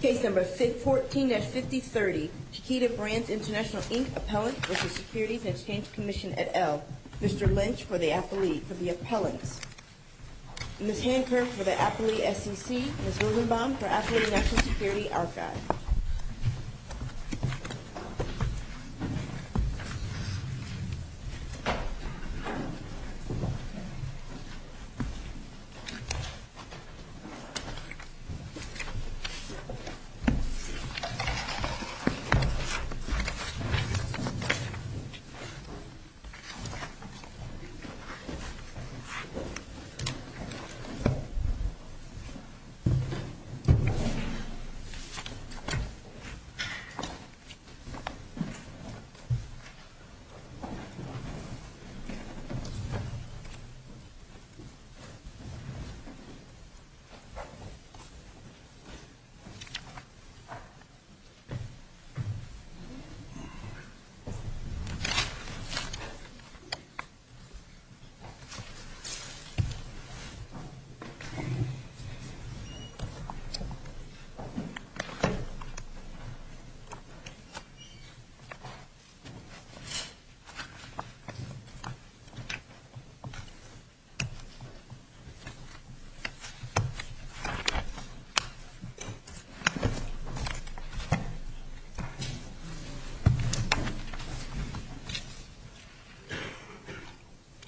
Case number 14-5030, Chiquita Brands International Inc. Appellant v. Securities and Exchange Commission et al. Mr. Lynch for the Appellee, for the Appellants. Ms. Hanker for the Appellee SEC. Ms. Rosenbaum for Appellee National Security Archive. Mr. Lynch for the Appellant. Mr. Lynch for the Appellant.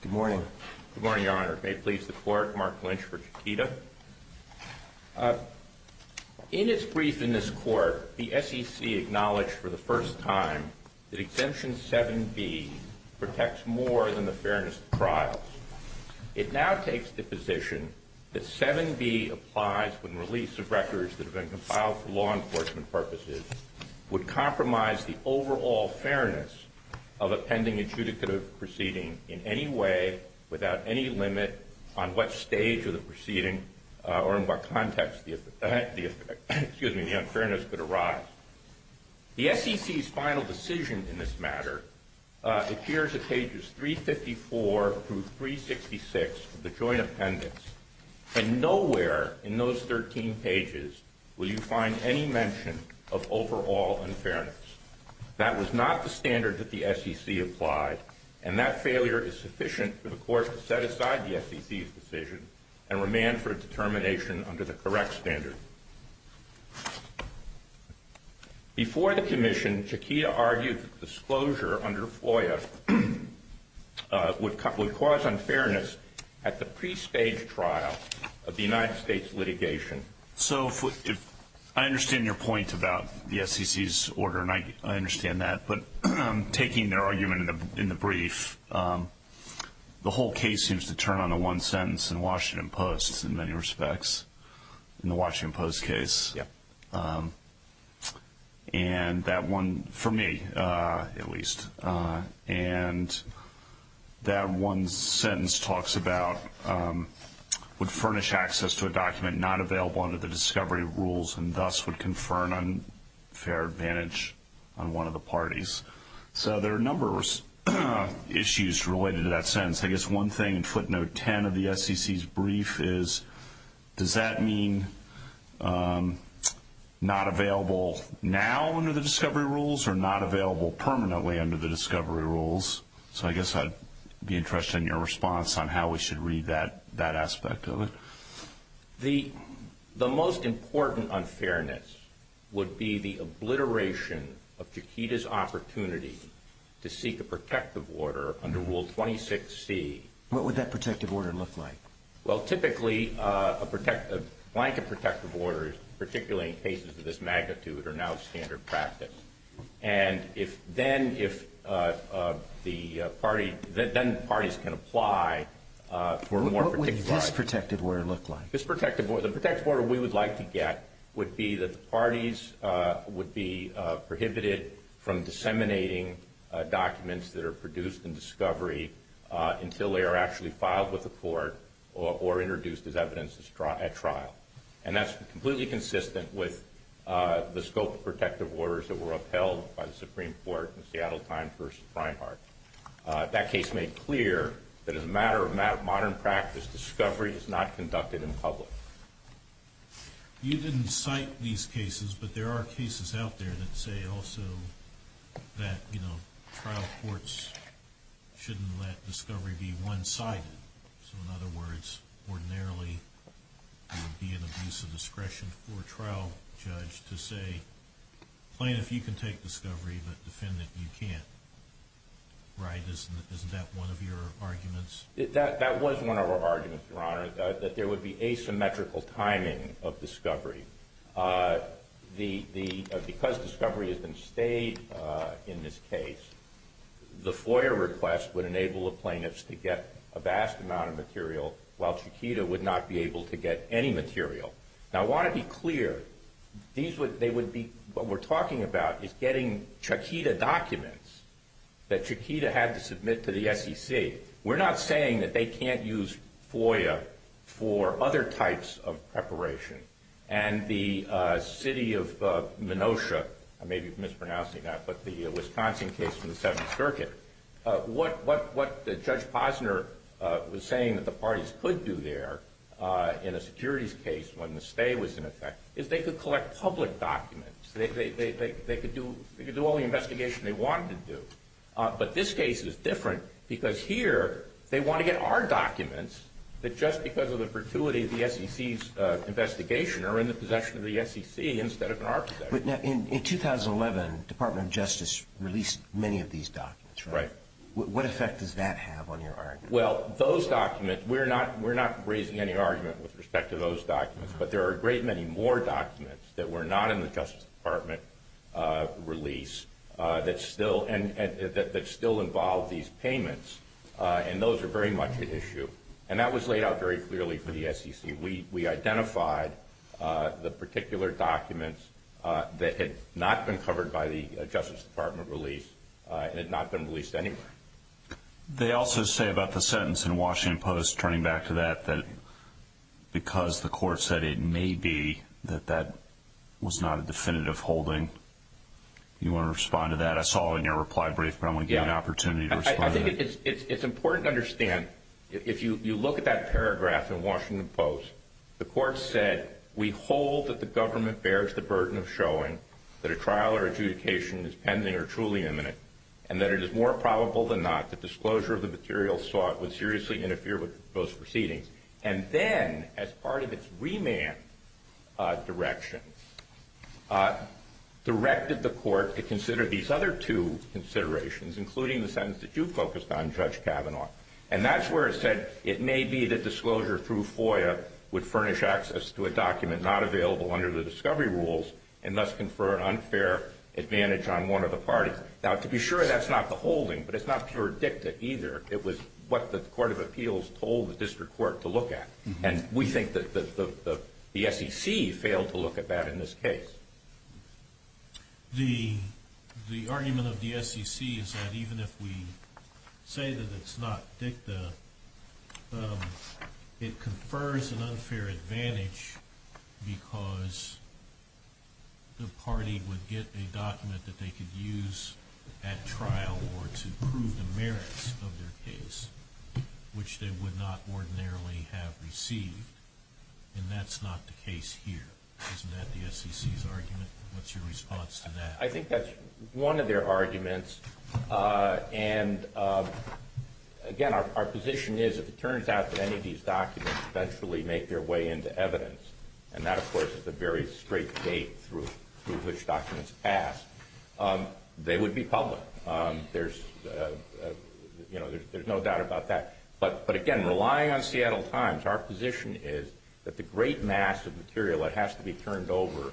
Good morning. Good morning, Your Honor. May it please the Court, Mark Lynch for Chiquita. In its brief in this Court, the SEC acknowledged for the first time that Exemption 7B protects more than the fairness of trials. It now takes the position that 7B applies when release of records that have been compiled for law enforcement purposes would compromise the overall fairness of a pending adjudicative proceeding in any way, without any limit, on what stage of the proceeding or in what context the unfairness could arise. The SEC's final decision in this matter appears at pages 354 through 366 of the Joint Appendix, and nowhere in those 13 pages will you find any mention of overall unfairness. That was not the standard that the SEC applied, and that failure is sufficient for the Court to set aside the SEC's decision and remand for determination under the correct standard. Before the Commission, Chiquita argued that disclosure under FOIA would cause unfairness at the pre-stage trial of the United States litigation. So I understand your point about the SEC's order, and I understand that, but taking their argument in the brief, the whole case seems to turn on the one sentence in Washington Post, in many respects, in the Washington Post case. And that one, for me at least, and that one sentence talks about would furnish access to a document not available under the discovery rules and thus would confer an unfair advantage on one of the parties. So there are a number of issues related to that sentence. I guess one thing in footnote 10 of the SEC's brief is, does that mean not available now under the discovery rules or not available permanently under the discovery rules? So I guess I'd be interested in your response on how we should read that aspect of it. The most important unfairness would be the obliteration of Chiquita's opportunity to seek a protective order under Rule 26C. What would that protective order look like? Well, typically, a blanket protective order, particularly in cases of this magnitude, are now standard practice. And if then the parties can apply for a more protective order. What would this protective order look like? The protective order we would like to get would be that the parties would be prohibited from disseminating documents that are produced in discovery until they are actually filed with the court or introduced as evidence at trial. And that's completely consistent with the scope of protective orders that were upheld by the Supreme Court in Seattle Times v. Reinhart. That case made clear that as a matter of modern practice, discovery is not conducted in public. You didn't cite these cases, but there are cases out there that say also that trial courts shouldn't let discovery be one-sided. So in other words, ordinarily, there would be an abuse of discretion for a trial judge to say, plaintiff, you can take discovery, but defendant, you can't. Right? Isn't that one of your arguments? That was one of our arguments, Your Honor, that there would be asymmetrical timing of discovery. Because discovery has been stayed in this case, the FOIA request would enable the plaintiffs to get a vast amount of material, while Chiquita would not be able to get any material. Now I want to be clear, what we're talking about is getting Chiquita documents that Chiquita had to submit to the SEC. We're not saying that they can't use FOIA for other types of preparation. And the city of Minotia, I may be mispronouncing that, but the Wisconsin case from the Seventh Circuit, what Judge Posner was saying that the parties could do there in a securities case when the stay was in effect, is they could collect public documents. They could do all the investigation they wanted to do. But this case is different because here they want to get our documents that just because of the virtuity of the SEC's investigation are in the possession of the SEC instead of in our possession. But now in 2011, Department of Justice released many of these documents, right? Right. What effect does that have on your argument? Well, those documents, we're not raising any argument with respect to those documents. But there are a great many more documents that were not in the Justice Department release that still involve these payments, and those are very much at issue. And that was laid out very clearly for the SEC. We identified the particular documents that had not been covered by the Justice Department release and had not been released anywhere. They also say about the sentence in Washington Post, turning back to that, that because the court said it may be that that was not a definitive holding. Do you want to respond to that? That's all in your reply brief, but I want to give you an opportunity to respond to that. I think it's important to understand if you look at that paragraph in Washington Post, the court said we hold that the government bears the burden of showing that a trial or adjudication is pending or truly imminent and that it is more probable than not that disclosure of the materials sought would seriously interfere with those proceedings. And then, as part of its remand direction, directed the court to consider these other two considerations, including the sentence that you focused on, Judge Kavanaugh. And that's where it said it may be that disclosure through FOIA would furnish access to a document not available under the discovery rules and thus confer an unfair advantage on one of the parties. Now, to be sure, that's not the holding, but it's not pure dicta either. It was what the Court of Appeals told the district court to look at, and we think that the SEC failed to look at that in this case. The argument of the SEC is that even if we say that it's not dicta, it confers an unfair advantage because the party would get a document that they could use at trial or to prove the merits of their case, which they would not ordinarily have received. And that's not the case here. Isn't that the SEC's argument? What's your response to that? I think that's one of their arguments. And, again, our position is if it turns out that any of these documents eventually make their way into evidence, and that, of course, is the very straight gate through which documents pass, they would be public. There's no doubt about that. But, again, relying on Seattle Times, our position is that the great mass of material that has to be turned over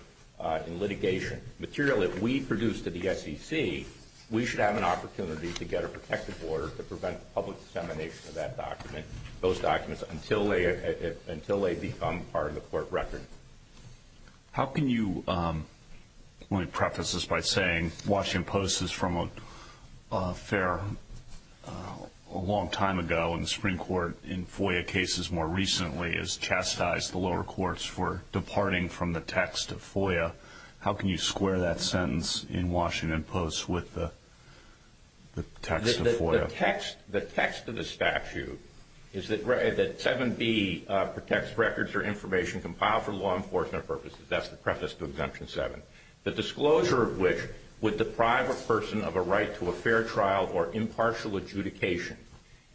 in litigation, material that we produce to the SEC, we should have an opportunity to get a protective order to prevent public dissemination of that document, those documents, until they become part of the court record. How can you, let me preface this by saying, Washington Post is from a long time ago and the Supreme Court in FOIA cases more recently has chastised the lower courts for departing from the text of FOIA. How can you square that sentence in Washington Post with the text of FOIA? The text of the statute is that 7B protects records or information compiled for law enforcement purposes. That's the preface to Exemption 7. The disclosure of which would deprive a person of a right to a fair trial or impartial adjudication.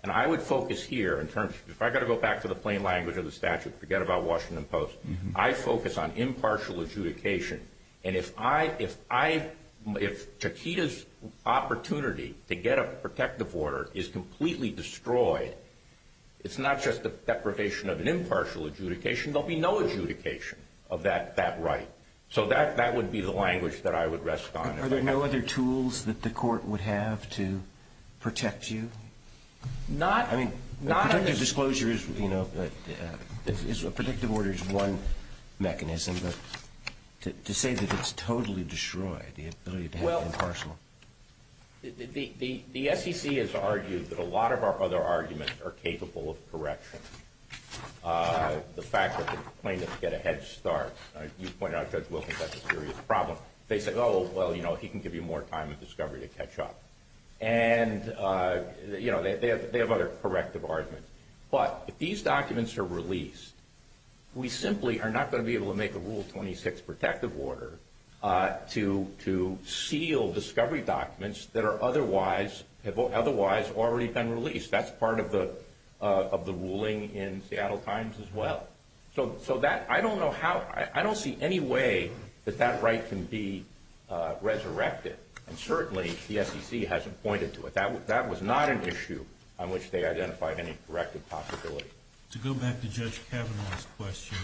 And I would focus here in terms of, if I've got to go back to the plain language of the statute, forget about Washington Post, I focus on impartial adjudication. And if I, if Takita's opportunity to get a protective order is completely destroyed, it's not just the deprivation of an impartial adjudication, there'll be no adjudication of that right. So that would be the language that I would rest on. Are there no other tools that the court would have to protect you? I mean, protective disclosures, you know, a protective order is one mechanism, but to say that it's totally destroyed, the ability to have impartial. The SEC has argued that a lot of our other arguments are capable of correction. The fact that the plaintiffs get a head start. You pointed out Judge Wilkins had a serious problem. They said, oh, well, you know, he can give you more time in discovery to catch up. And, you know, they have other corrective arguments. But if these documents are released, we simply are not going to be able to make a Rule 26 protective order to seal discovery documents that are otherwise, have otherwise already been released. That's part of the ruling in Seattle Times as well. So that, I don't know how, I don't see any way that that right can be resurrected. And certainly, the SEC hasn't pointed to it. That was not an issue on which they identified any corrective possibility. To go back to Judge Kavanaugh's question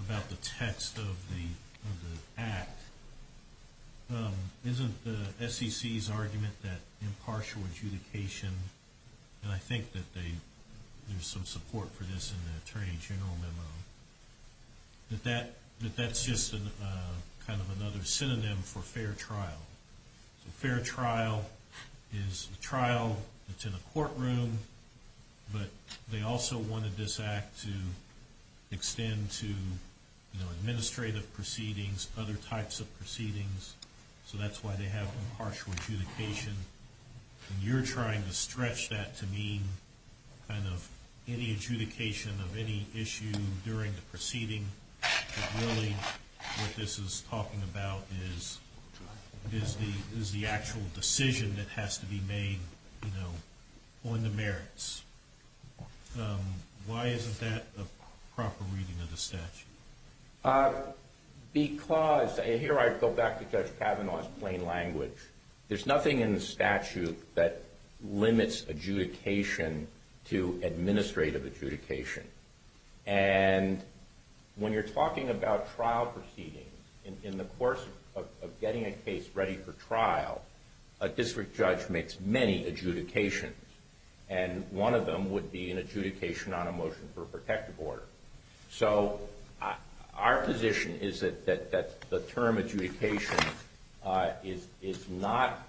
about the text of the act, isn't the SEC's argument that impartial adjudication, and I think that there's some support for this in the Attorney General memo, that that's just kind of another synonym for fair trial. Fair trial is a trial that's in a courtroom, but they also wanted this act to extend to administrative proceedings, other types of proceedings. So that's why they have impartial adjudication. And you're trying to stretch that to mean kind of any adjudication of any issue during the proceeding. Really, what this is talking about is the actual decision that has to be made on the merits. Why isn't that a proper reading of the statute? Because, here I go back to Judge Kavanaugh's plain language. There's nothing in the statute that limits adjudication to administrative adjudication. And when you're talking about trial proceedings, in the course of getting a case ready for trial, a district judge makes many adjudications. And one of them would be an adjudication on a motion for a protective order. So our position is that the term adjudication is not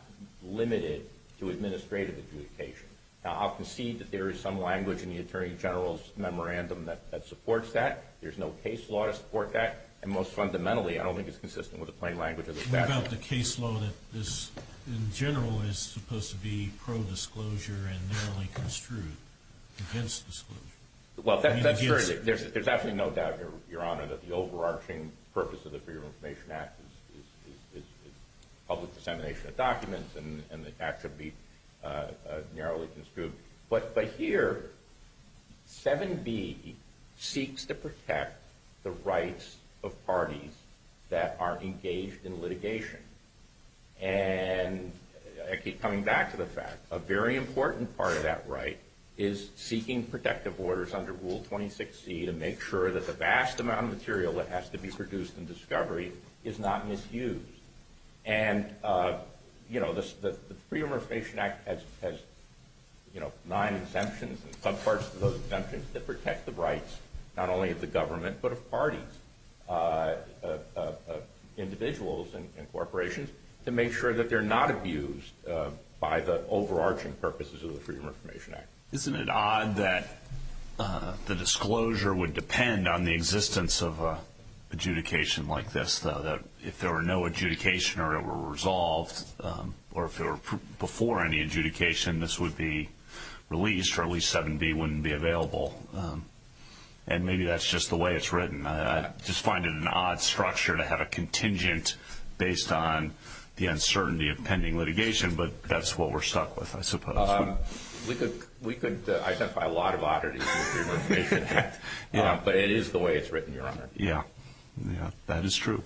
limited to administrative adjudication. Now, I'll concede that there is some language in the Attorney General's memorandum that supports that. There's no case law to support that. And most fundamentally, I don't think it's consistent with the plain language of the statute. What about the case law that this, in general, is supposed to be pro-disclosure and narrowly construed against disclosure? Well, that's true. There's absolutely no doubt, Your Honor, that the overarching purpose of the Freedom of Information Act is public dissemination of documents, and the act should be narrowly construed. But here, 7B seeks to protect the rights of parties that are engaged in litigation. And I keep coming back to the fact, a very important part of that right is seeking protective orders under Rule 26C to make sure that the vast amount of material that has to be produced in discovery is not misused. And, you know, the Freedom of Information Act has, you know, nine exemptions and subparts of those exemptions that protect the rights not only of the government, but of parties, individuals and corporations, to make sure that they're not abused by the overarching purposes of the Freedom of Information Act. Isn't it odd that the disclosure would depend on the existence of adjudication like this, though, that if there were no adjudication or it were resolved, or if it were before any adjudication, this would be released or at least 7B wouldn't be available? And maybe that's just the way it's written. I just find it an odd structure to have a contingent based on the uncertainty of pending litigation, but that's what we're stuck with, I suppose. We could identify a lot of oddities in the Freedom of Information Act, but it is the way it's written, Your Honor. Yeah, that is true.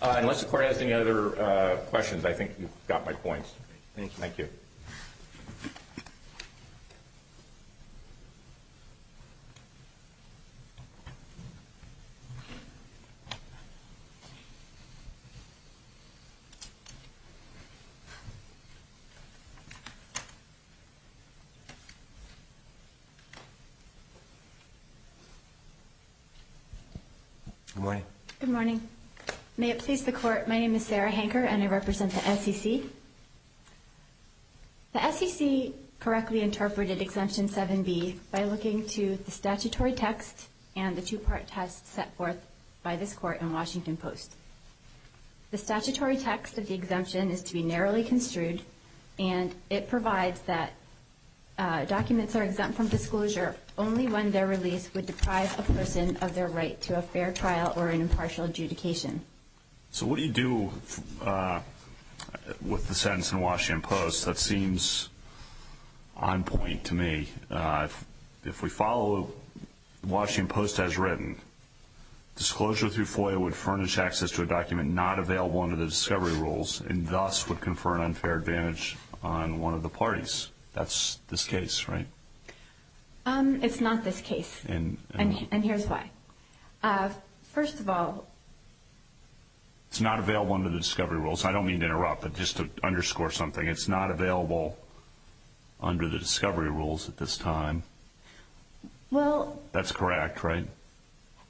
Unless the Court has any other questions, I think you've got my points. Thank you. Thank you. Good morning. Good morning. May it please the Court, my name is Sarah Hanker and I represent the SEC. The SEC correctly interpreted Exemption 7B by looking to the statutory text and the two-part test set forth by this Court in Washington Post. The statutory text of the exemption is to be narrowly construed, and it provides that documents are exempt from disclosure only when they're released would deprive a person of their right to a fair trial or an impartial adjudication. So what do you do with the sentence in Washington Post? That seems on point to me. If we follow Washington Post as written, disclosure through FOIA would furnish access to a document not available under the discovery rules and thus would confer an unfair advantage on one of the parties. That's this case, right? It's not this case, and here's why. First of all, it's not available under the discovery rules. I don't mean to interrupt, but just to underscore something, it's not available under the discovery rules at this time. That's correct, right?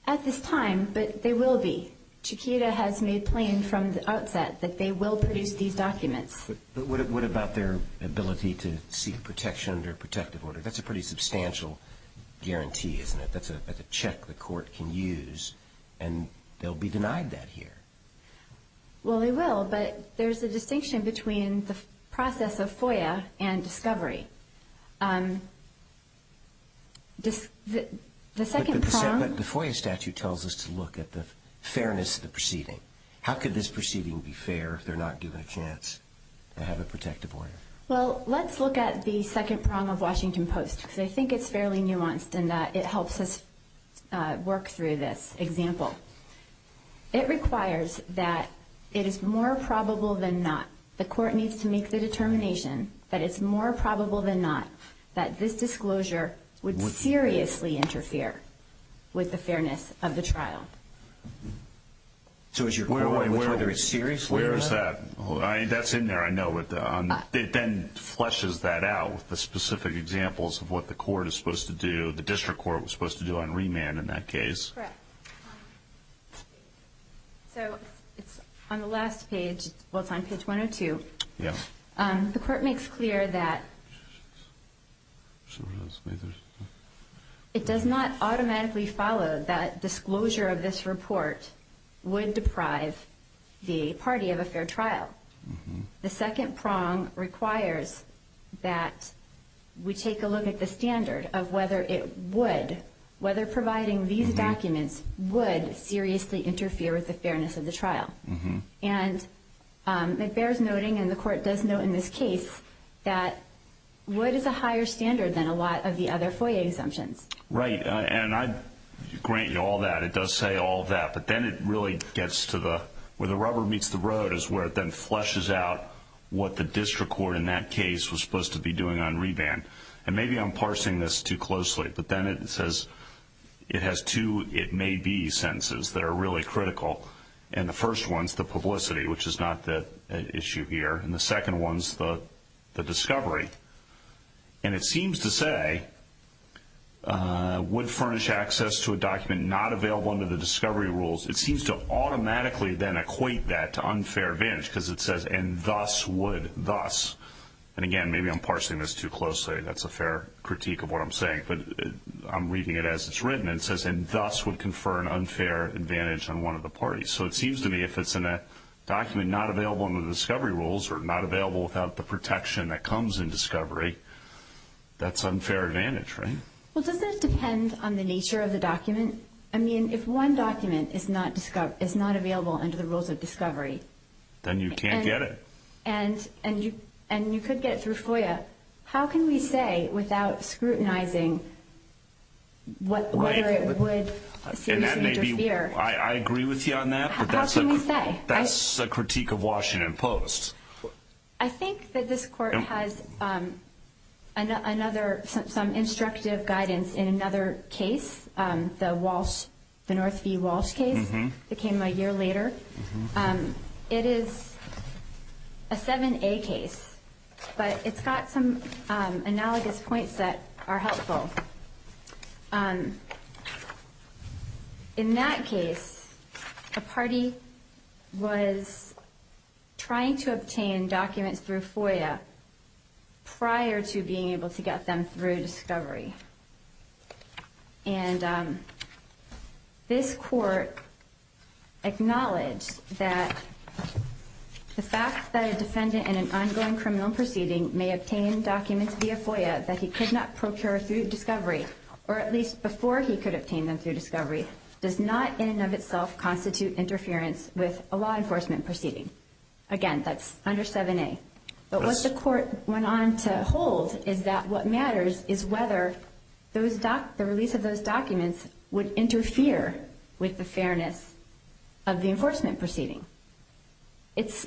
At this time, but they will be. Chiquita has made plain from the outset that they will produce these documents. But what about their ability to seek protection under protective order? That's a pretty substantial guarantee, isn't it? That's a check the court can use, and they'll be denied that here. Well, they will, but there's a distinction between the process of FOIA and discovery. The second prong. But the FOIA statute tells us to look at the fairness of the proceeding. How could this proceeding be fair if they're not given a chance to have a protective order? Well, let's look at the second prong of Washington Post, because I think it's fairly nuanced in that it helps us work through this example. It requires that it is more probable than not. The court needs to make the determination that it's more probable than not that this disclosure would seriously interfere with the fairness of the trial. So is your point whether it's seriously or not? Where is that? That's in there. It then fleshes that out with the specific examples of what the court is supposed to do, the district court was supposed to do on remand in that case. Correct. So it's on the last page. Well, it's on page 102. The court makes clear that it does not automatically follow that disclosure of this report would deprive the party of a fair trial. The second prong requires that we take a look at the standard of whether it would, whether providing these documents would seriously interfere with the fairness of the trial. And it bears noting, and the court does note in this case, that would is a higher standard than a lot of the other FOIA exemptions. Right. And I grant you all that. It does say all that. But then it really gets to where the rubber meets the road, is where it then fleshes out what the district court in that case was supposed to be doing on remand. And maybe I'm parsing this too closely, but then it says it has two it may be sentences that are really critical. And the first one is the publicity, which is not the issue here. And the second one is the discovery. And it seems to say would furnish access to a document not available under the discovery rules. It seems to automatically then equate that to unfair advantage because it says and thus would, thus. And, again, maybe I'm parsing this too closely. That's a fair critique of what I'm saying. But I'm reading it as it's written. It says and thus would confer an unfair advantage on one of the parties. So it seems to me if it's in a document not available under the discovery rules or not available without the protection that comes in discovery, that's unfair advantage, right? Well, doesn't it depend on the nature of the document? I mean, if one document is not available under the rules of discovery. Then you can't get it. And you could get it through FOIA. How can we say without scrutinizing whether it would seriously interfere? I agree with you on that. How can we say? That's a critique of Washington Post. I think that this court has another, some instructive guidance in another case, the Walsh, the Northview Walsh case. It came a year later. It is a 7A case, but it's got some analogous points that are helpful. In that case, a party was trying to obtain documents through FOIA prior to being able to get them through discovery. And this court acknowledged that the fact that a defendant in an ongoing criminal proceeding may obtain documents via FOIA that he could not procure through discovery, or at least before he could obtain them through discovery, does not in and of itself constitute interference with a law enforcement proceeding. Again, that's under 7A. But what the court went on to hold is that what matters is whether the release of those documents would interfere with the fairness of the enforcement proceeding. It's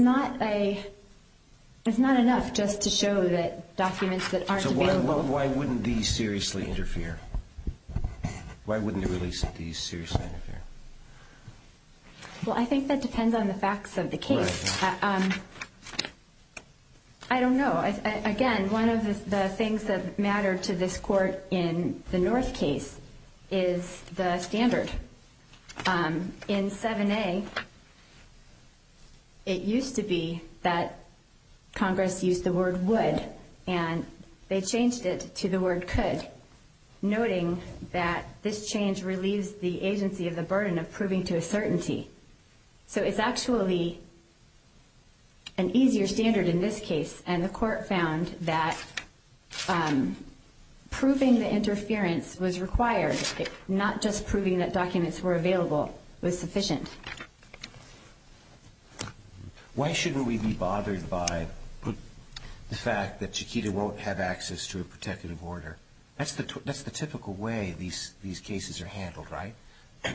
not enough just to show that documents that aren't available... So why wouldn't these seriously interfere? Why wouldn't the release of these seriously interfere? Well, I think that depends on the facts of the case. I don't know. Again, one of the things that matter to this court in the North case is the standard. In 7A, it used to be that Congress used the word would, and they changed it to the word could, noting that this change relieves the agency of the burden of proving to a certainty. So it's actually an easier standard in this case. And the court found that proving the interference was required, not just proving that documents were available, was sufficient. Why shouldn't we be bothered by the fact that Chiquita won't have access to a protective order? That's the typical way these cases are handled, right?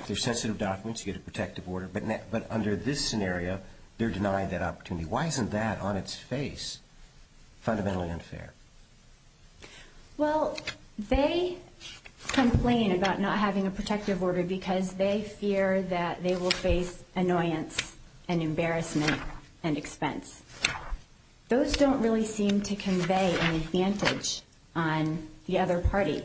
They're sensitive documents. You get a protective order. But under this scenario, they're denied that opportunity. Why isn't that, on its face, fundamentally unfair? Well, they complain about not having a protective order because they fear that they will face annoyance and embarrassment and expense. Those don't really seem to convey an advantage on the other party,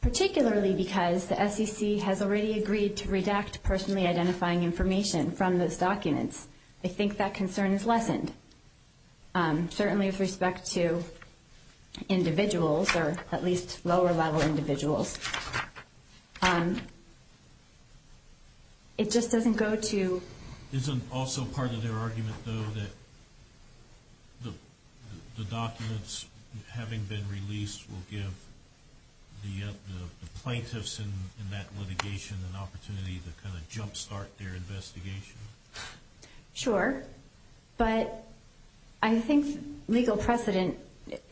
particularly because the SEC has already agreed to redact personally identifying information from those documents. They think that concern is lessened, certainly with respect to individuals or at least lower-level individuals. It just doesn't go to— Isn't also part of their argument, though, that the documents having been released will give the plaintiffs in that litigation an opportunity to kind of jumpstart their investigation? Sure. But I think legal precedent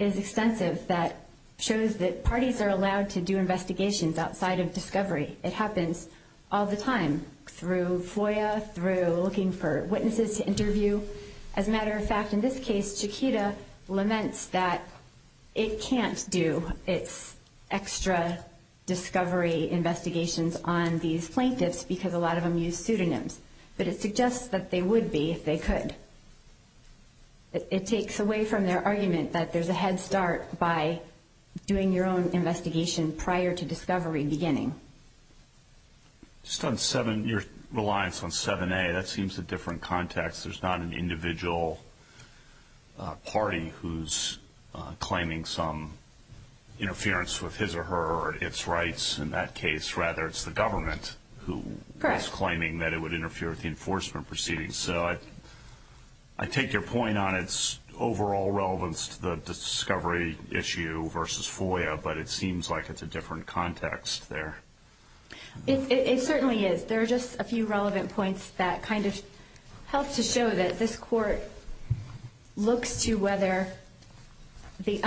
is extensive that shows that parties are allowed to do investigations outside of discovery. It happens all the time through FOIA, through looking for witnesses to interview. As a matter of fact, in this case, Chiquita laments that it can't do its extra discovery investigations on these plaintiffs because a lot of them use pseudonyms. But it suggests that they would be if they could. It takes away from their argument that there's a head start by doing your own investigation prior to discovery beginning. Just on your reliance on 7A, that seems a different context. There's not an individual party who's claiming some interference with his or her or its rights in that case. Rather, it's the government who is claiming that it would interfere with the enforcement proceedings. So I take your point on its overall relevance to the discovery issue versus FOIA, but it seems like it's a different context there. It certainly is. There are just a few relevant points that kind of help to show that this Court looks to whether the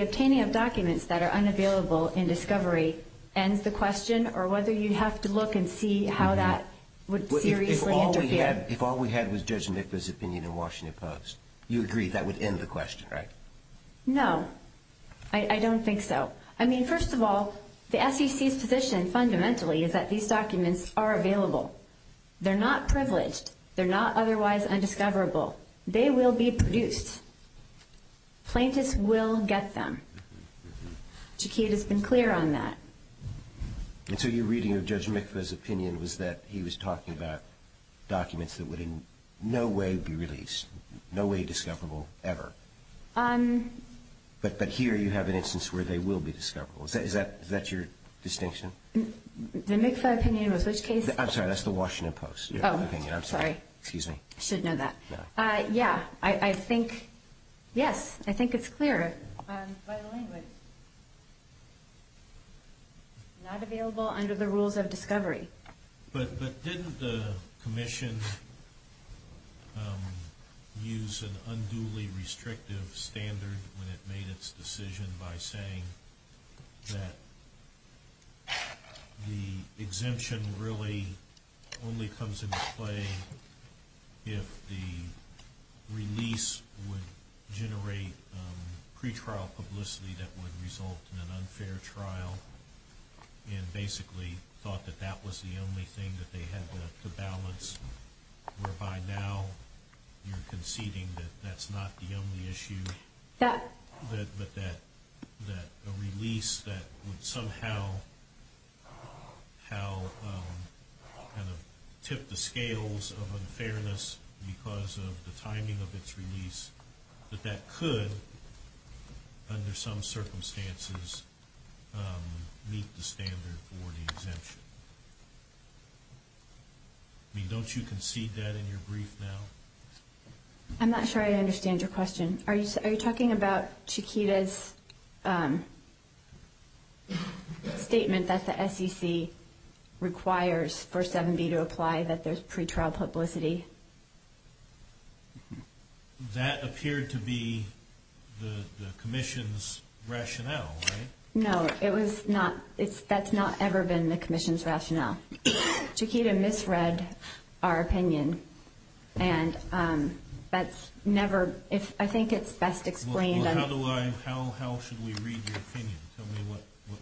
obtaining of documents that are unavailable in discovery ends the question or whether you have to look and see how that would seriously interfere. If all we had was Judge Mikva's opinion in Washington Post, you agree that would end the question, right? No, I don't think so. I mean, first of all, the SEC's position fundamentally is that these documents are available. They're not privileged. They're not otherwise undiscoverable. They will be produced. Plaintiffs will get them. Chiquita's been clear on that. And so your reading of Judge Mikva's opinion was that he was talking about documents that would in no way be released, no way discoverable ever. But here you have an instance where they will be discoverable. Is that your distinction? The Mikva opinion was which case? I'm sorry, that's the Washington Post opinion. I'm sorry. Excuse me. I should know that. Yeah, I think, yes, I think it's clear by the language. Not available under the rules of discovery. But didn't the commission use an unduly restrictive standard when it made its decision by saying that the exemption really only comes into play if the release would generate pretrial publicity that would result in an unfair trial and basically thought that that was the only thing that they had to balance, whereby now you're conceding that that's not the only issue, but that a release that would somehow kind of tip the scales of unfairness because of the timing of its release, that that could under some circumstances meet the standard for the exemption. I mean, don't you concede that in your brief now? I'm not sure I understand your question. Are you talking about Chiquita's statement that the SEC requires for 7B to apply that there's pretrial publicity? That appeared to be the commission's rationale, right? No, it was not. That's not ever been the commission's rationale. Chiquita misread our opinion, and that's never, I think it's best explained. Well, how should we read your opinion? Tell me what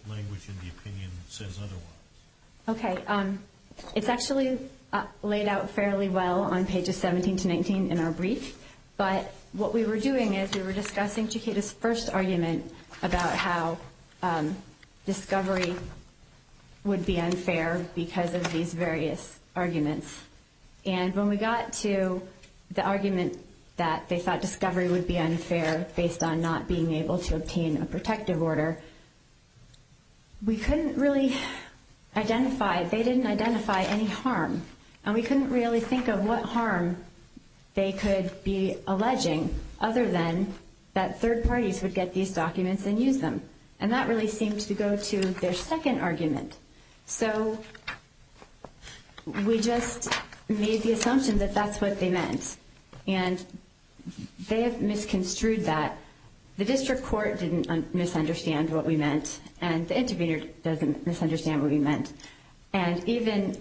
language in the opinion says otherwise. Okay. It's actually laid out fairly well on pages 17 to 19 in our brief, but what we were doing is we were discussing Chiquita's first argument about how discovery would be unfair because of these various arguments. And when we got to the argument that they thought discovery would be unfair based on not being able to obtain a protective order, we couldn't really identify, they didn't identify any harm, and we couldn't really think of what harm they could be alleging other than that third parties would get these documents and use them. And that really seemed to go to their second argument. So we just made the assumption that that's what they meant, and they have misconstrued that. The district court didn't misunderstand what we meant, and the intervener doesn't misunderstand what we meant. And even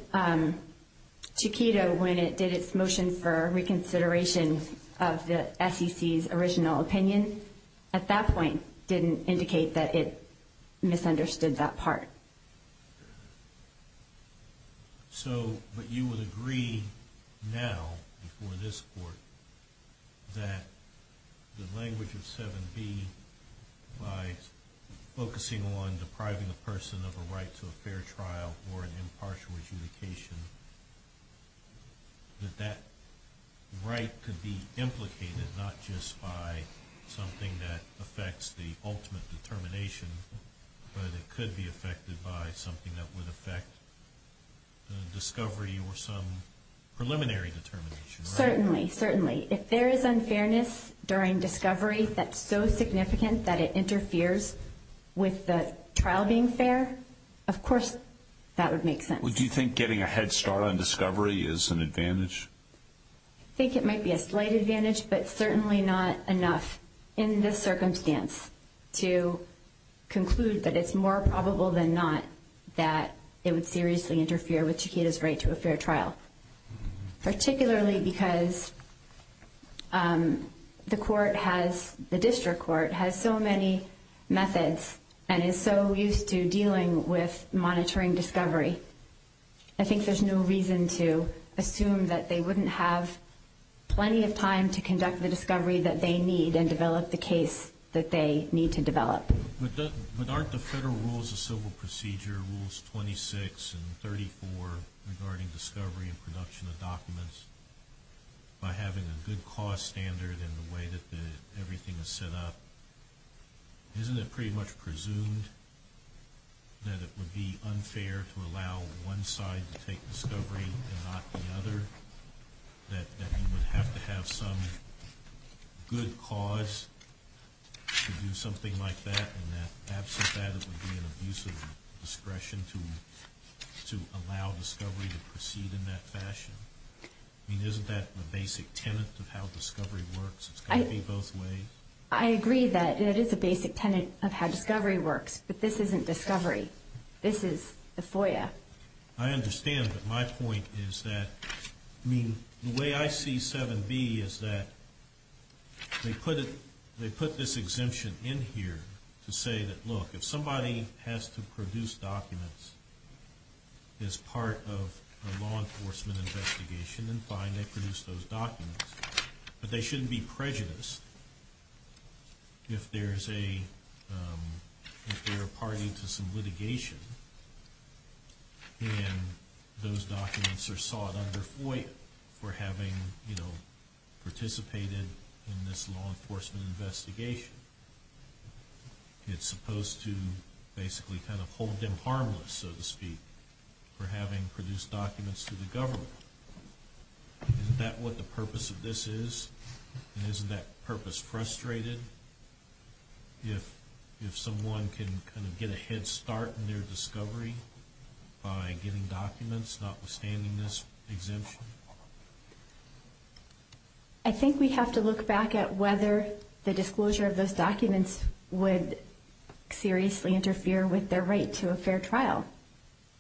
Chiquita, when it did its motion for reconsideration of the SEC's original opinion, at that point didn't indicate that it misunderstood that part. So, but you would agree now, before this court, that the language of 7B, by focusing on depriving a person of a right to a fair trial or an impartial adjudication, that that right could be implicated not just by something that affects the ultimate determination, but it could be affected by something that would affect the discovery or some preliminary determination, right? Certainly, certainly. If there is unfairness during discovery that's so significant that it interferes with the trial being fair, of course that would make sense. Would you think getting a head start on discovery is an advantage? I think it might be a slight advantage, but certainly not enough in this circumstance to conclude that it's more probable than not that it would seriously interfere with Chiquita's right to a fair trial, particularly because the court has, the district court has so many methods and is so used to dealing with monitoring discovery. I think there's no reason to assume that they wouldn't have plenty of time to conduct the discovery that they need and develop the case that they need to develop. But aren't the federal rules of civil procedure, Rules 26 and 34, regarding discovery and production of documents, by having a good cost standard in the way that everything is set up, isn't it pretty much presumed that it would be unfair to allow one side to take discovery and not the other, that you would have to have some good cause to do something like that, and that absent that it would be an abuse of discretion to allow discovery to proceed in that fashion? I mean, isn't that the basic tenet of how discovery works? It's got to be both ways? I agree that it is a basic tenet of how discovery works, but this isn't discovery. This is a FOIA. I understand, but my point is that, I mean, the way I see 7B is that they put this exemption in here to say that, look, if somebody has to produce documents as part of a law enforcement investigation, then fine, they produce those documents. But they shouldn't be prejudiced. If they're a party to some litigation, and those documents are sought under FOIA, for having participated in this law enforcement investigation, it's supposed to basically kind of hold them harmless, so to speak, for having produced documents to the government. Isn't that what the purpose of this is? And isn't that purpose frustrated? If someone can kind of get a head start in their discovery by getting documents notwithstanding this exemption? I think we have to look back at whether the disclosure of those documents would seriously interfere with their right to a fair trial.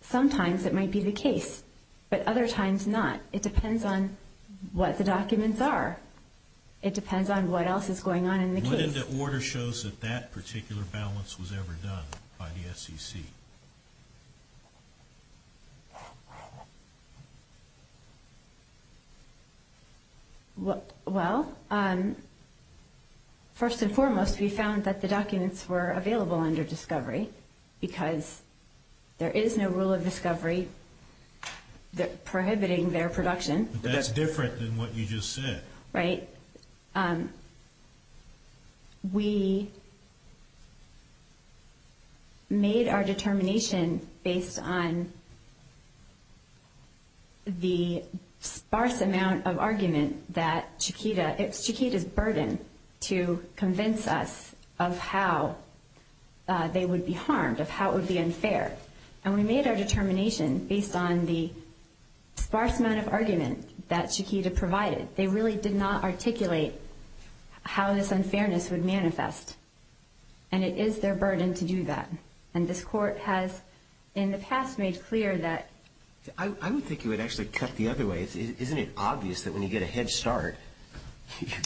Sometimes it might be the case, but other times not. It depends on what the documents are. It depends on what else is going on in the case. What in the order shows that that particular balance was ever done by the SEC? Well, first and foremost, we found that the documents were available under discovery, because there is no rule of discovery prohibiting their production. But that's different than what you just said. Right? We made our determination based on the sparse amount of argument that Chiquita, it's Chiquita's burden to convince us of how they would be harmed, of how it would be unfair. And we made our determination based on the sparse amount of argument that Chiquita provided. They really did not articulate how this unfairness would manifest. And it is their burden to do that. And this Court has in the past made clear that. I would think you would actually cut the other way. Isn't it obvious that when you get a head start,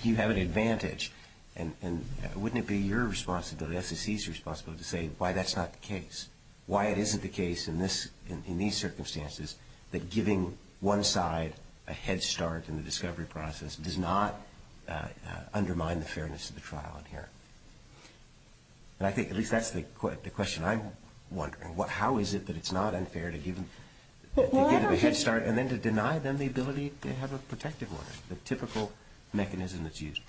you have an advantage? And wouldn't it be your responsibility, SEC's responsibility, to say why that's not the case? Why it isn't the case in these circumstances that giving one side a head start in the discovery process does not undermine the fairness of the trial in here? And I think at least that's the question I'm wondering. How is it that it's not unfair to give them a head start and then to deny them the ability to have a protective order, the typical mechanism that's used?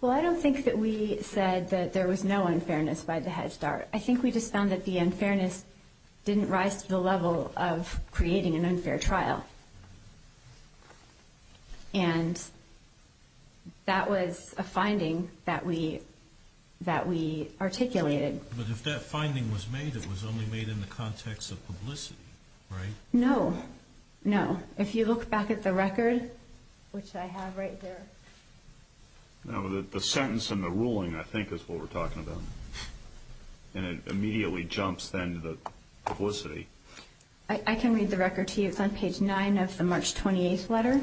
Well, I don't think that we said that there was no unfairness by the head start. I think we just found that the unfairness didn't rise to the level of creating an unfair trial. And that was a finding that we articulated. But if that finding was made, it was only made in the context of publicity, right? No, no. If you look back at the record, which I have right here. The sentence and the ruling, I think, is what we're talking about. And it immediately jumps then to the publicity. I can read the record to you. It's on page 9 of the March 28th letter.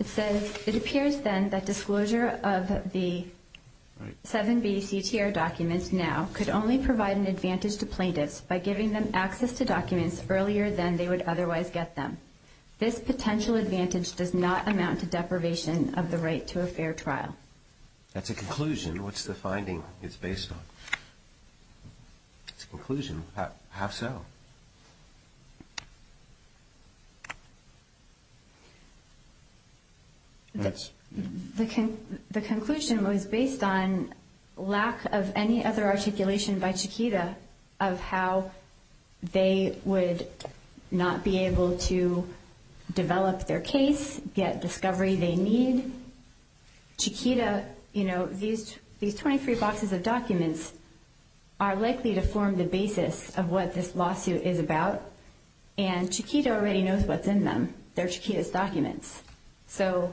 It says, It appears then that disclosure of the 7B CTR documents now could only provide an advantage to plaintiffs by giving them access to documents earlier than they would otherwise get them. This potential advantage does not amount to deprivation of the right to a fair trial. That's a conclusion. What's the finding it's based on? It's a conclusion. How so? The conclusion was based on lack of any other articulation by Chiquita of how they would not be able to develop their case, get discovery they need. Chiquita, you know, these 23 boxes of documents are likely to form the basis of what this lawsuit is about. And Chiquita already knows what's in them. They're Chiquita's documents. So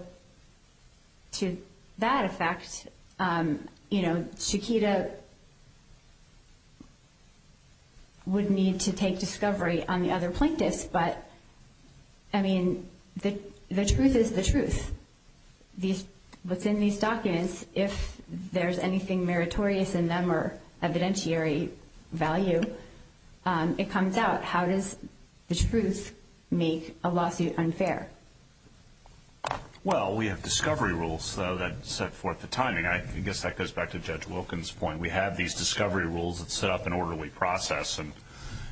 to that effect, you know, Chiquita would need to take discovery on the other plaintiffs. But, I mean, the truth is the truth. What's in these documents, if there's anything meritorious in them or evidentiary value, it comes out. How does the truth make a lawsuit unfair? Well, we have discovery rules, though, that set forth the timing. I guess that goes back to Judge Wilkins' point. We have these discovery rules that set up an orderly process and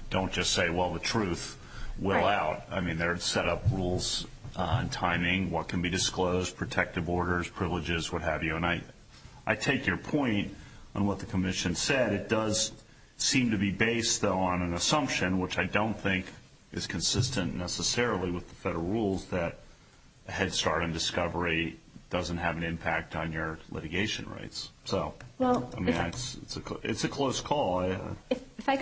don't just say, well, the truth will out. I mean, they're set up rules on timing, what can be disclosed, protective orders, privileges, what have you. And I take your point on what the commission said. It does seem to be based, though, on an assumption, which I don't think is consistent necessarily with the federal rules, that a head start on discovery doesn't have an impact on your litigation rights. So, I mean, it's a close call. If I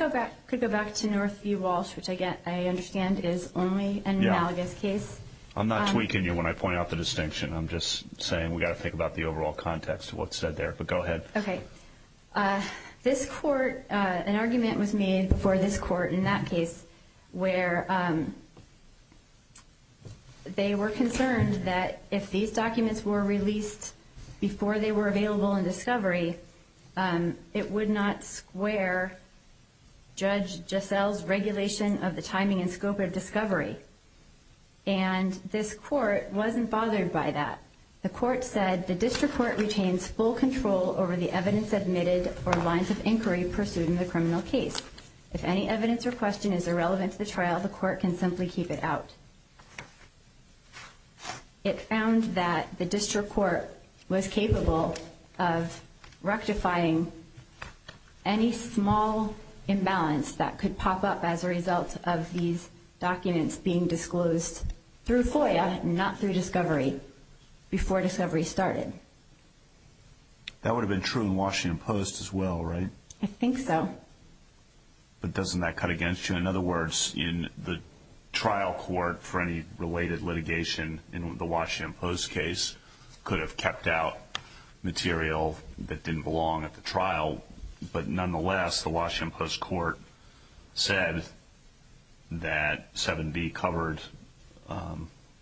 could go back to Northview Walsh, which I understand is only an analogous case. I'm not tweaking you when I point out the distinction. I'm just saying we've got to think about the overall context of what's said there. But go ahead. Okay. This court, an argument was made for this court in that case where they were concerned that if these documents were released before they were available in discovery, it would not square Judge Gissell's regulation of the timing and scope of discovery. And this court wasn't bothered by that. The court said the district court retains full control over the evidence admitted or lines of inquiry pursued in the criminal case. If any evidence or question is irrelevant to the trial, the court can simply keep it out. It found that the district court was capable of rectifying any small imbalance that could pop up as a result of these documents being disclosed through FOIA, not through discovery, before discovery started. That would have been true in Washington Post as well, right? I think so. But doesn't that cut against you? In other words, in the trial court for any related litigation in the Washington Post case, could have kept out material that didn't belong at the trial. But nonetheless, the Washington Post court said that 7B covered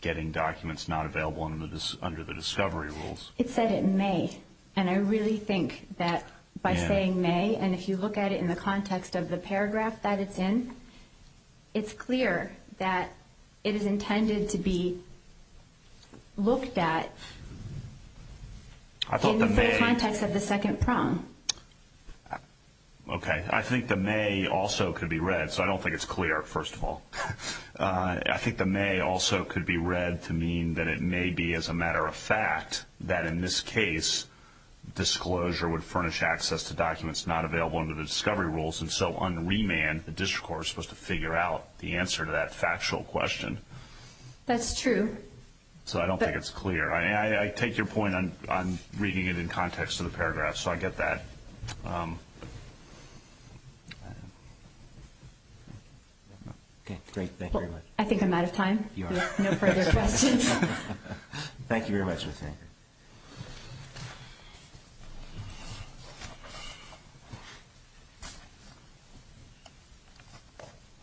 getting documents not available under the discovery rules. It said it may. And I really think that by saying may, and if you look at it in the context of the paragraph that it's in, it's clear that it is intended to be looked at in the context of the second prong. Okay. I think the may also could be read, so I don't think it's clear, first of all. I think the may also could be read to mean that it may be, as a matter of fact, that in this case disclosure would furnish access to documents not available under the discovery rules, and so on remand the district court was supposed to figure out the answer to that factual question. That's true. So I don't think it's clear. I take your point on reading it in context of the paragraph, so I get that. Okay, great. Thank you very much. I think I'm out of time. You are. No further questions. Thank you very much.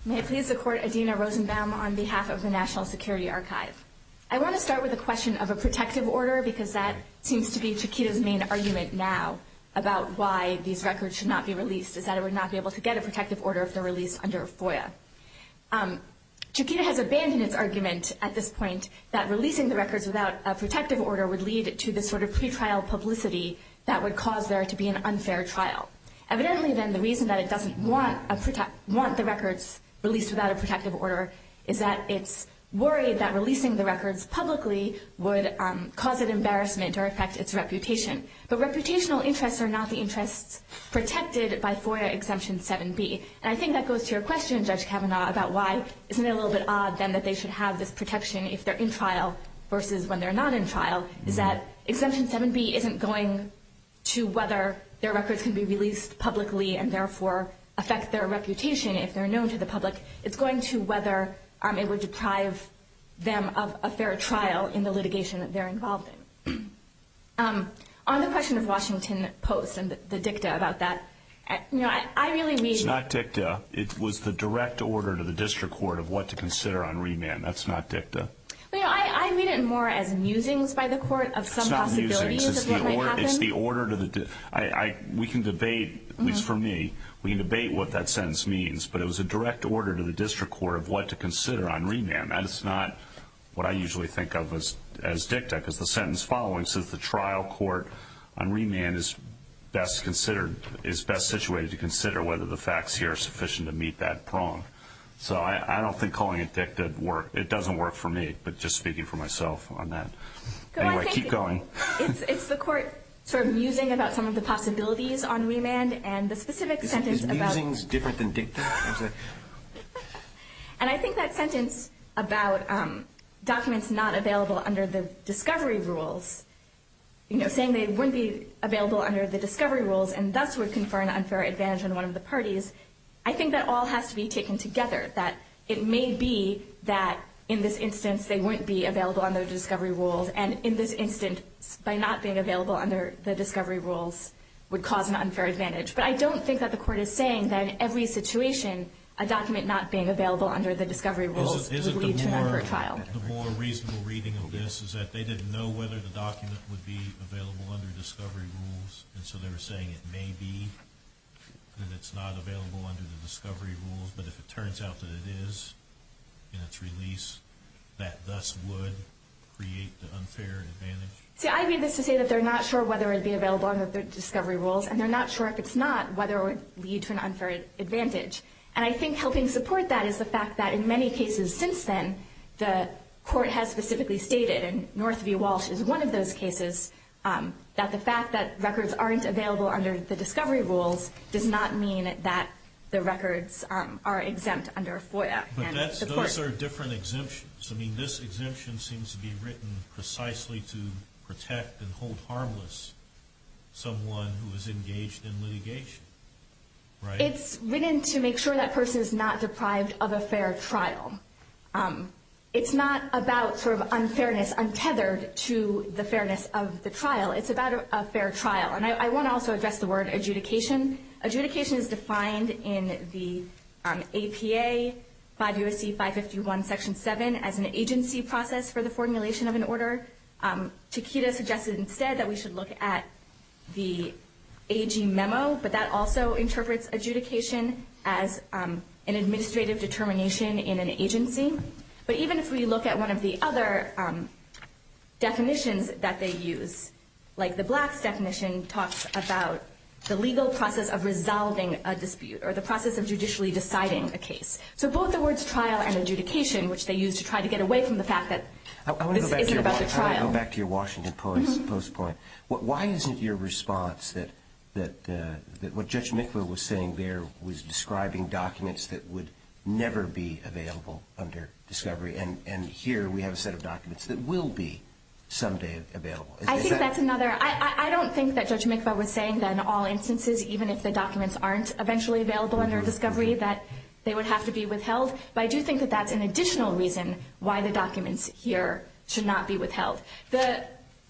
May I please support Adina Rosenbaum on behalf of the National Security Archive? I want to start with a question of a protective order, because that seems to be Chiquita's main argument now about why these records should not be released, is that it would not be able to get a protective order if they're released under FOIA. Chiquita has abandoned its argument at this point that releasing the records without a protective order would lead to this sort of pretrial publicity that would cause there to be an unfair trial. Evidently, then, the reason that it doesn't want the records released without a protective order is that it's worried that releasing the records publicly would cause an embarrassment or affect its reputation. But reputational interests are not the interests protected by FOIA Exemption 7B. And I think that goes to your question, Judge Kavanaugh, about why isn't it a little bit odd, then, that they should have this protection if they're in trial versus when they're not in trial, is that Exemption 7B isn't going to whether their records can be released publicly and, therefore, affect their reputation if they're known to the public. It's going to whether it would deprive them of a fair trial in the litigation that they're involved in. On the question of Washington Post and the dicta about that, you know, I really mean It's not dicta. It was the direct order to the district court of what to consider on remand. That's not dicta. I mean it more as musings by the court of some possibilities of what might happen. It's the order to the dicta. We can debate, at least for me, we can debate what that sentence means. But it was a direct order to the district court of what to consider on remand. That is not what I usually think of as dicta because the sentence following says the trial court on remand is best situated to consider whether the facts here are sufficient to meet that prong. So I don't think calling it dicta would work. It doesn't work for me, but just speaking for myself on that. Anyway, keep going. It's the court sort of musing about some of the possibilities on remand and the specific sentence about Is musings different than dicta? And I think that sentence about documents not available under the discovery rules, saying they wouldn't be available under the discovery rules and thus would confer an unfair advantage on one of the parties, I think that all has to be taken together. That it may be that in this instance they wouldn't be available under the discovery rules and in this instance by not being available under the discovery rules would cause an unfair advantage. But I don't think that the court is saying that in every situation, a document not being available under the discovery rules would lead to an unfair trial. Isn't the more reasonable reading of this is that they didn't know whether the document would be available under discovery rules and so they were saying it may be that it's not available under the discovery rules, but if it turns out that it is in its release, that thus would create the unfair advantage? See, I read this to say that they're not sure whether it would be available under the discovery rules and they're not sure if it's not whether it would lead to an unfair advantage. And I think helping support that is the fact that in many cases since then, the court has specifically stated, and Northview Walsh is one of those cases, that the fact that records aren't available under the discovery rules does not mean that the records are exempt under FOIA. But those are different exemptions. So, I mean, this exemption seems to be written precisely to protect and hold harmless someone who is engaged in litigation, right? It's written to make sure that person is not deprived of a fair trial. It's not about sort of unfairness, untethered to the fairness of the trial. It's about a fair trial. And I want to also address the word adjudication. Adjudication is defined in the APA, 5 U.S.C. 551, Section 7, as an agency process for the formulation of an order. Takeda suggested instead that we should look at the AG memo, but that also interprets adjudication as an administrative determination in an agency. But even if we look at one of the other definitions that they use, like the Blacks' definition talks about the legal process of resolving a dispute or the process of judicially deciding a case. So both the words trial and adjudication, which they use to try to get away from the fact that this isn't about the trial. I want to go back to your Washington Post point. Why isn't your response that what Judge Mickler was saying there was describing documents that would never be available under discovery, and here we have a set of documents that will be someday available? I think that's another. I don't think that Judge Mickler was saying that in all instances, even if the documents aren't eventually available under discovery, that they would have to be withheld. But I do think that that's an additional reason why the documents here should not be withheld. The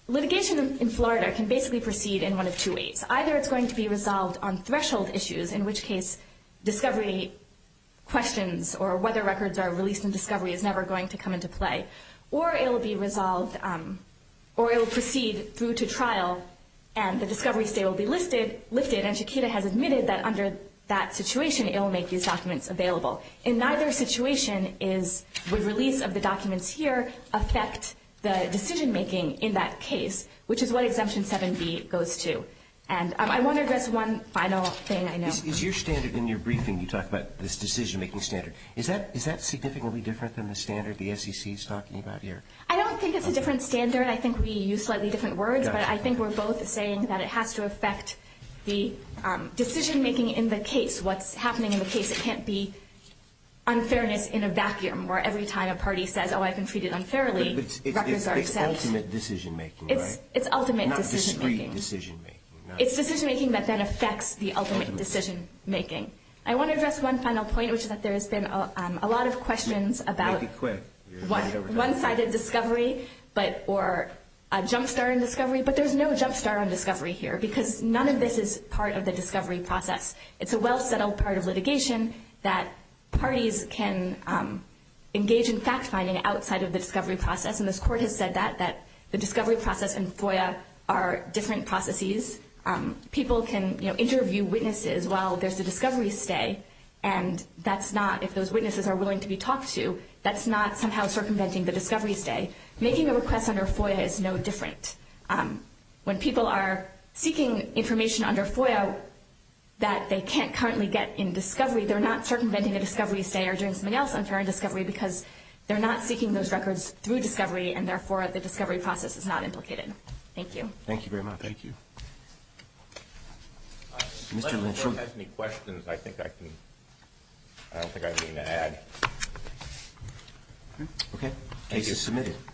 litigation in Florida can basically proceed in one of two ways. Either it's going to be resolved on threshold issues, in which case discovery questions or whether records are released in discovery is never going to come into play. Or it will be resolved or it will proceed through to trial and the discovery stay will be lifted and Chiquita has admitted that under that situation it will make these documents available. In neither situation would release of the documents here affect the decision-making in that case, which is what Exemption 7B goes to. And I want to address one final thing I know. Is your standard in your briefing, you talk about this decision-making standard, is that significantly different than the standard the SEC is talking about here? I don't think it's a different standard. I think we use slightly different words. But I think we're both saying that it has to affect the decision-making in the case, what's happening in the case. It can't be unfairness in a vacuum where every time a party says, oh, I've been treated unfairly, records are accepted. But it's ultimate decision-making, right? It's ultimate decision-making. Not discrete decision-making. It's decision-making that then affects the ultimate decision-making. I want to address one final point, which is that there has been a lot of questions about one-sided discovery or a jumpstart on discovery, but there's no jumpstart on discovery here because none of this is part of the discovery process. It's a well-settled part of litigation that parties can engage in fact-finding outside of the discovery process, and this Court has said that, that the discovery process and FOIA are different processes. People can, you know, interview witnesses while there's a discovery stay, and that's not, if those witnesses are willing to be talked to, that's not somehow circumventing the discovery stay. Making a request under FOIA is no different. When people are seeking information under FOIA that they can't currently get in discovery, they're not circumventing a discovery stay or doing something else unfair in discovery because they're not seeking those records through discovery, and, therefore, the discovery process is not implicated. Thank you. Thank you very much. Thank you. Mr. Lynch. If anyone has any questions, I think I can, I don't think I have anything to add. Okay. Case is submitted.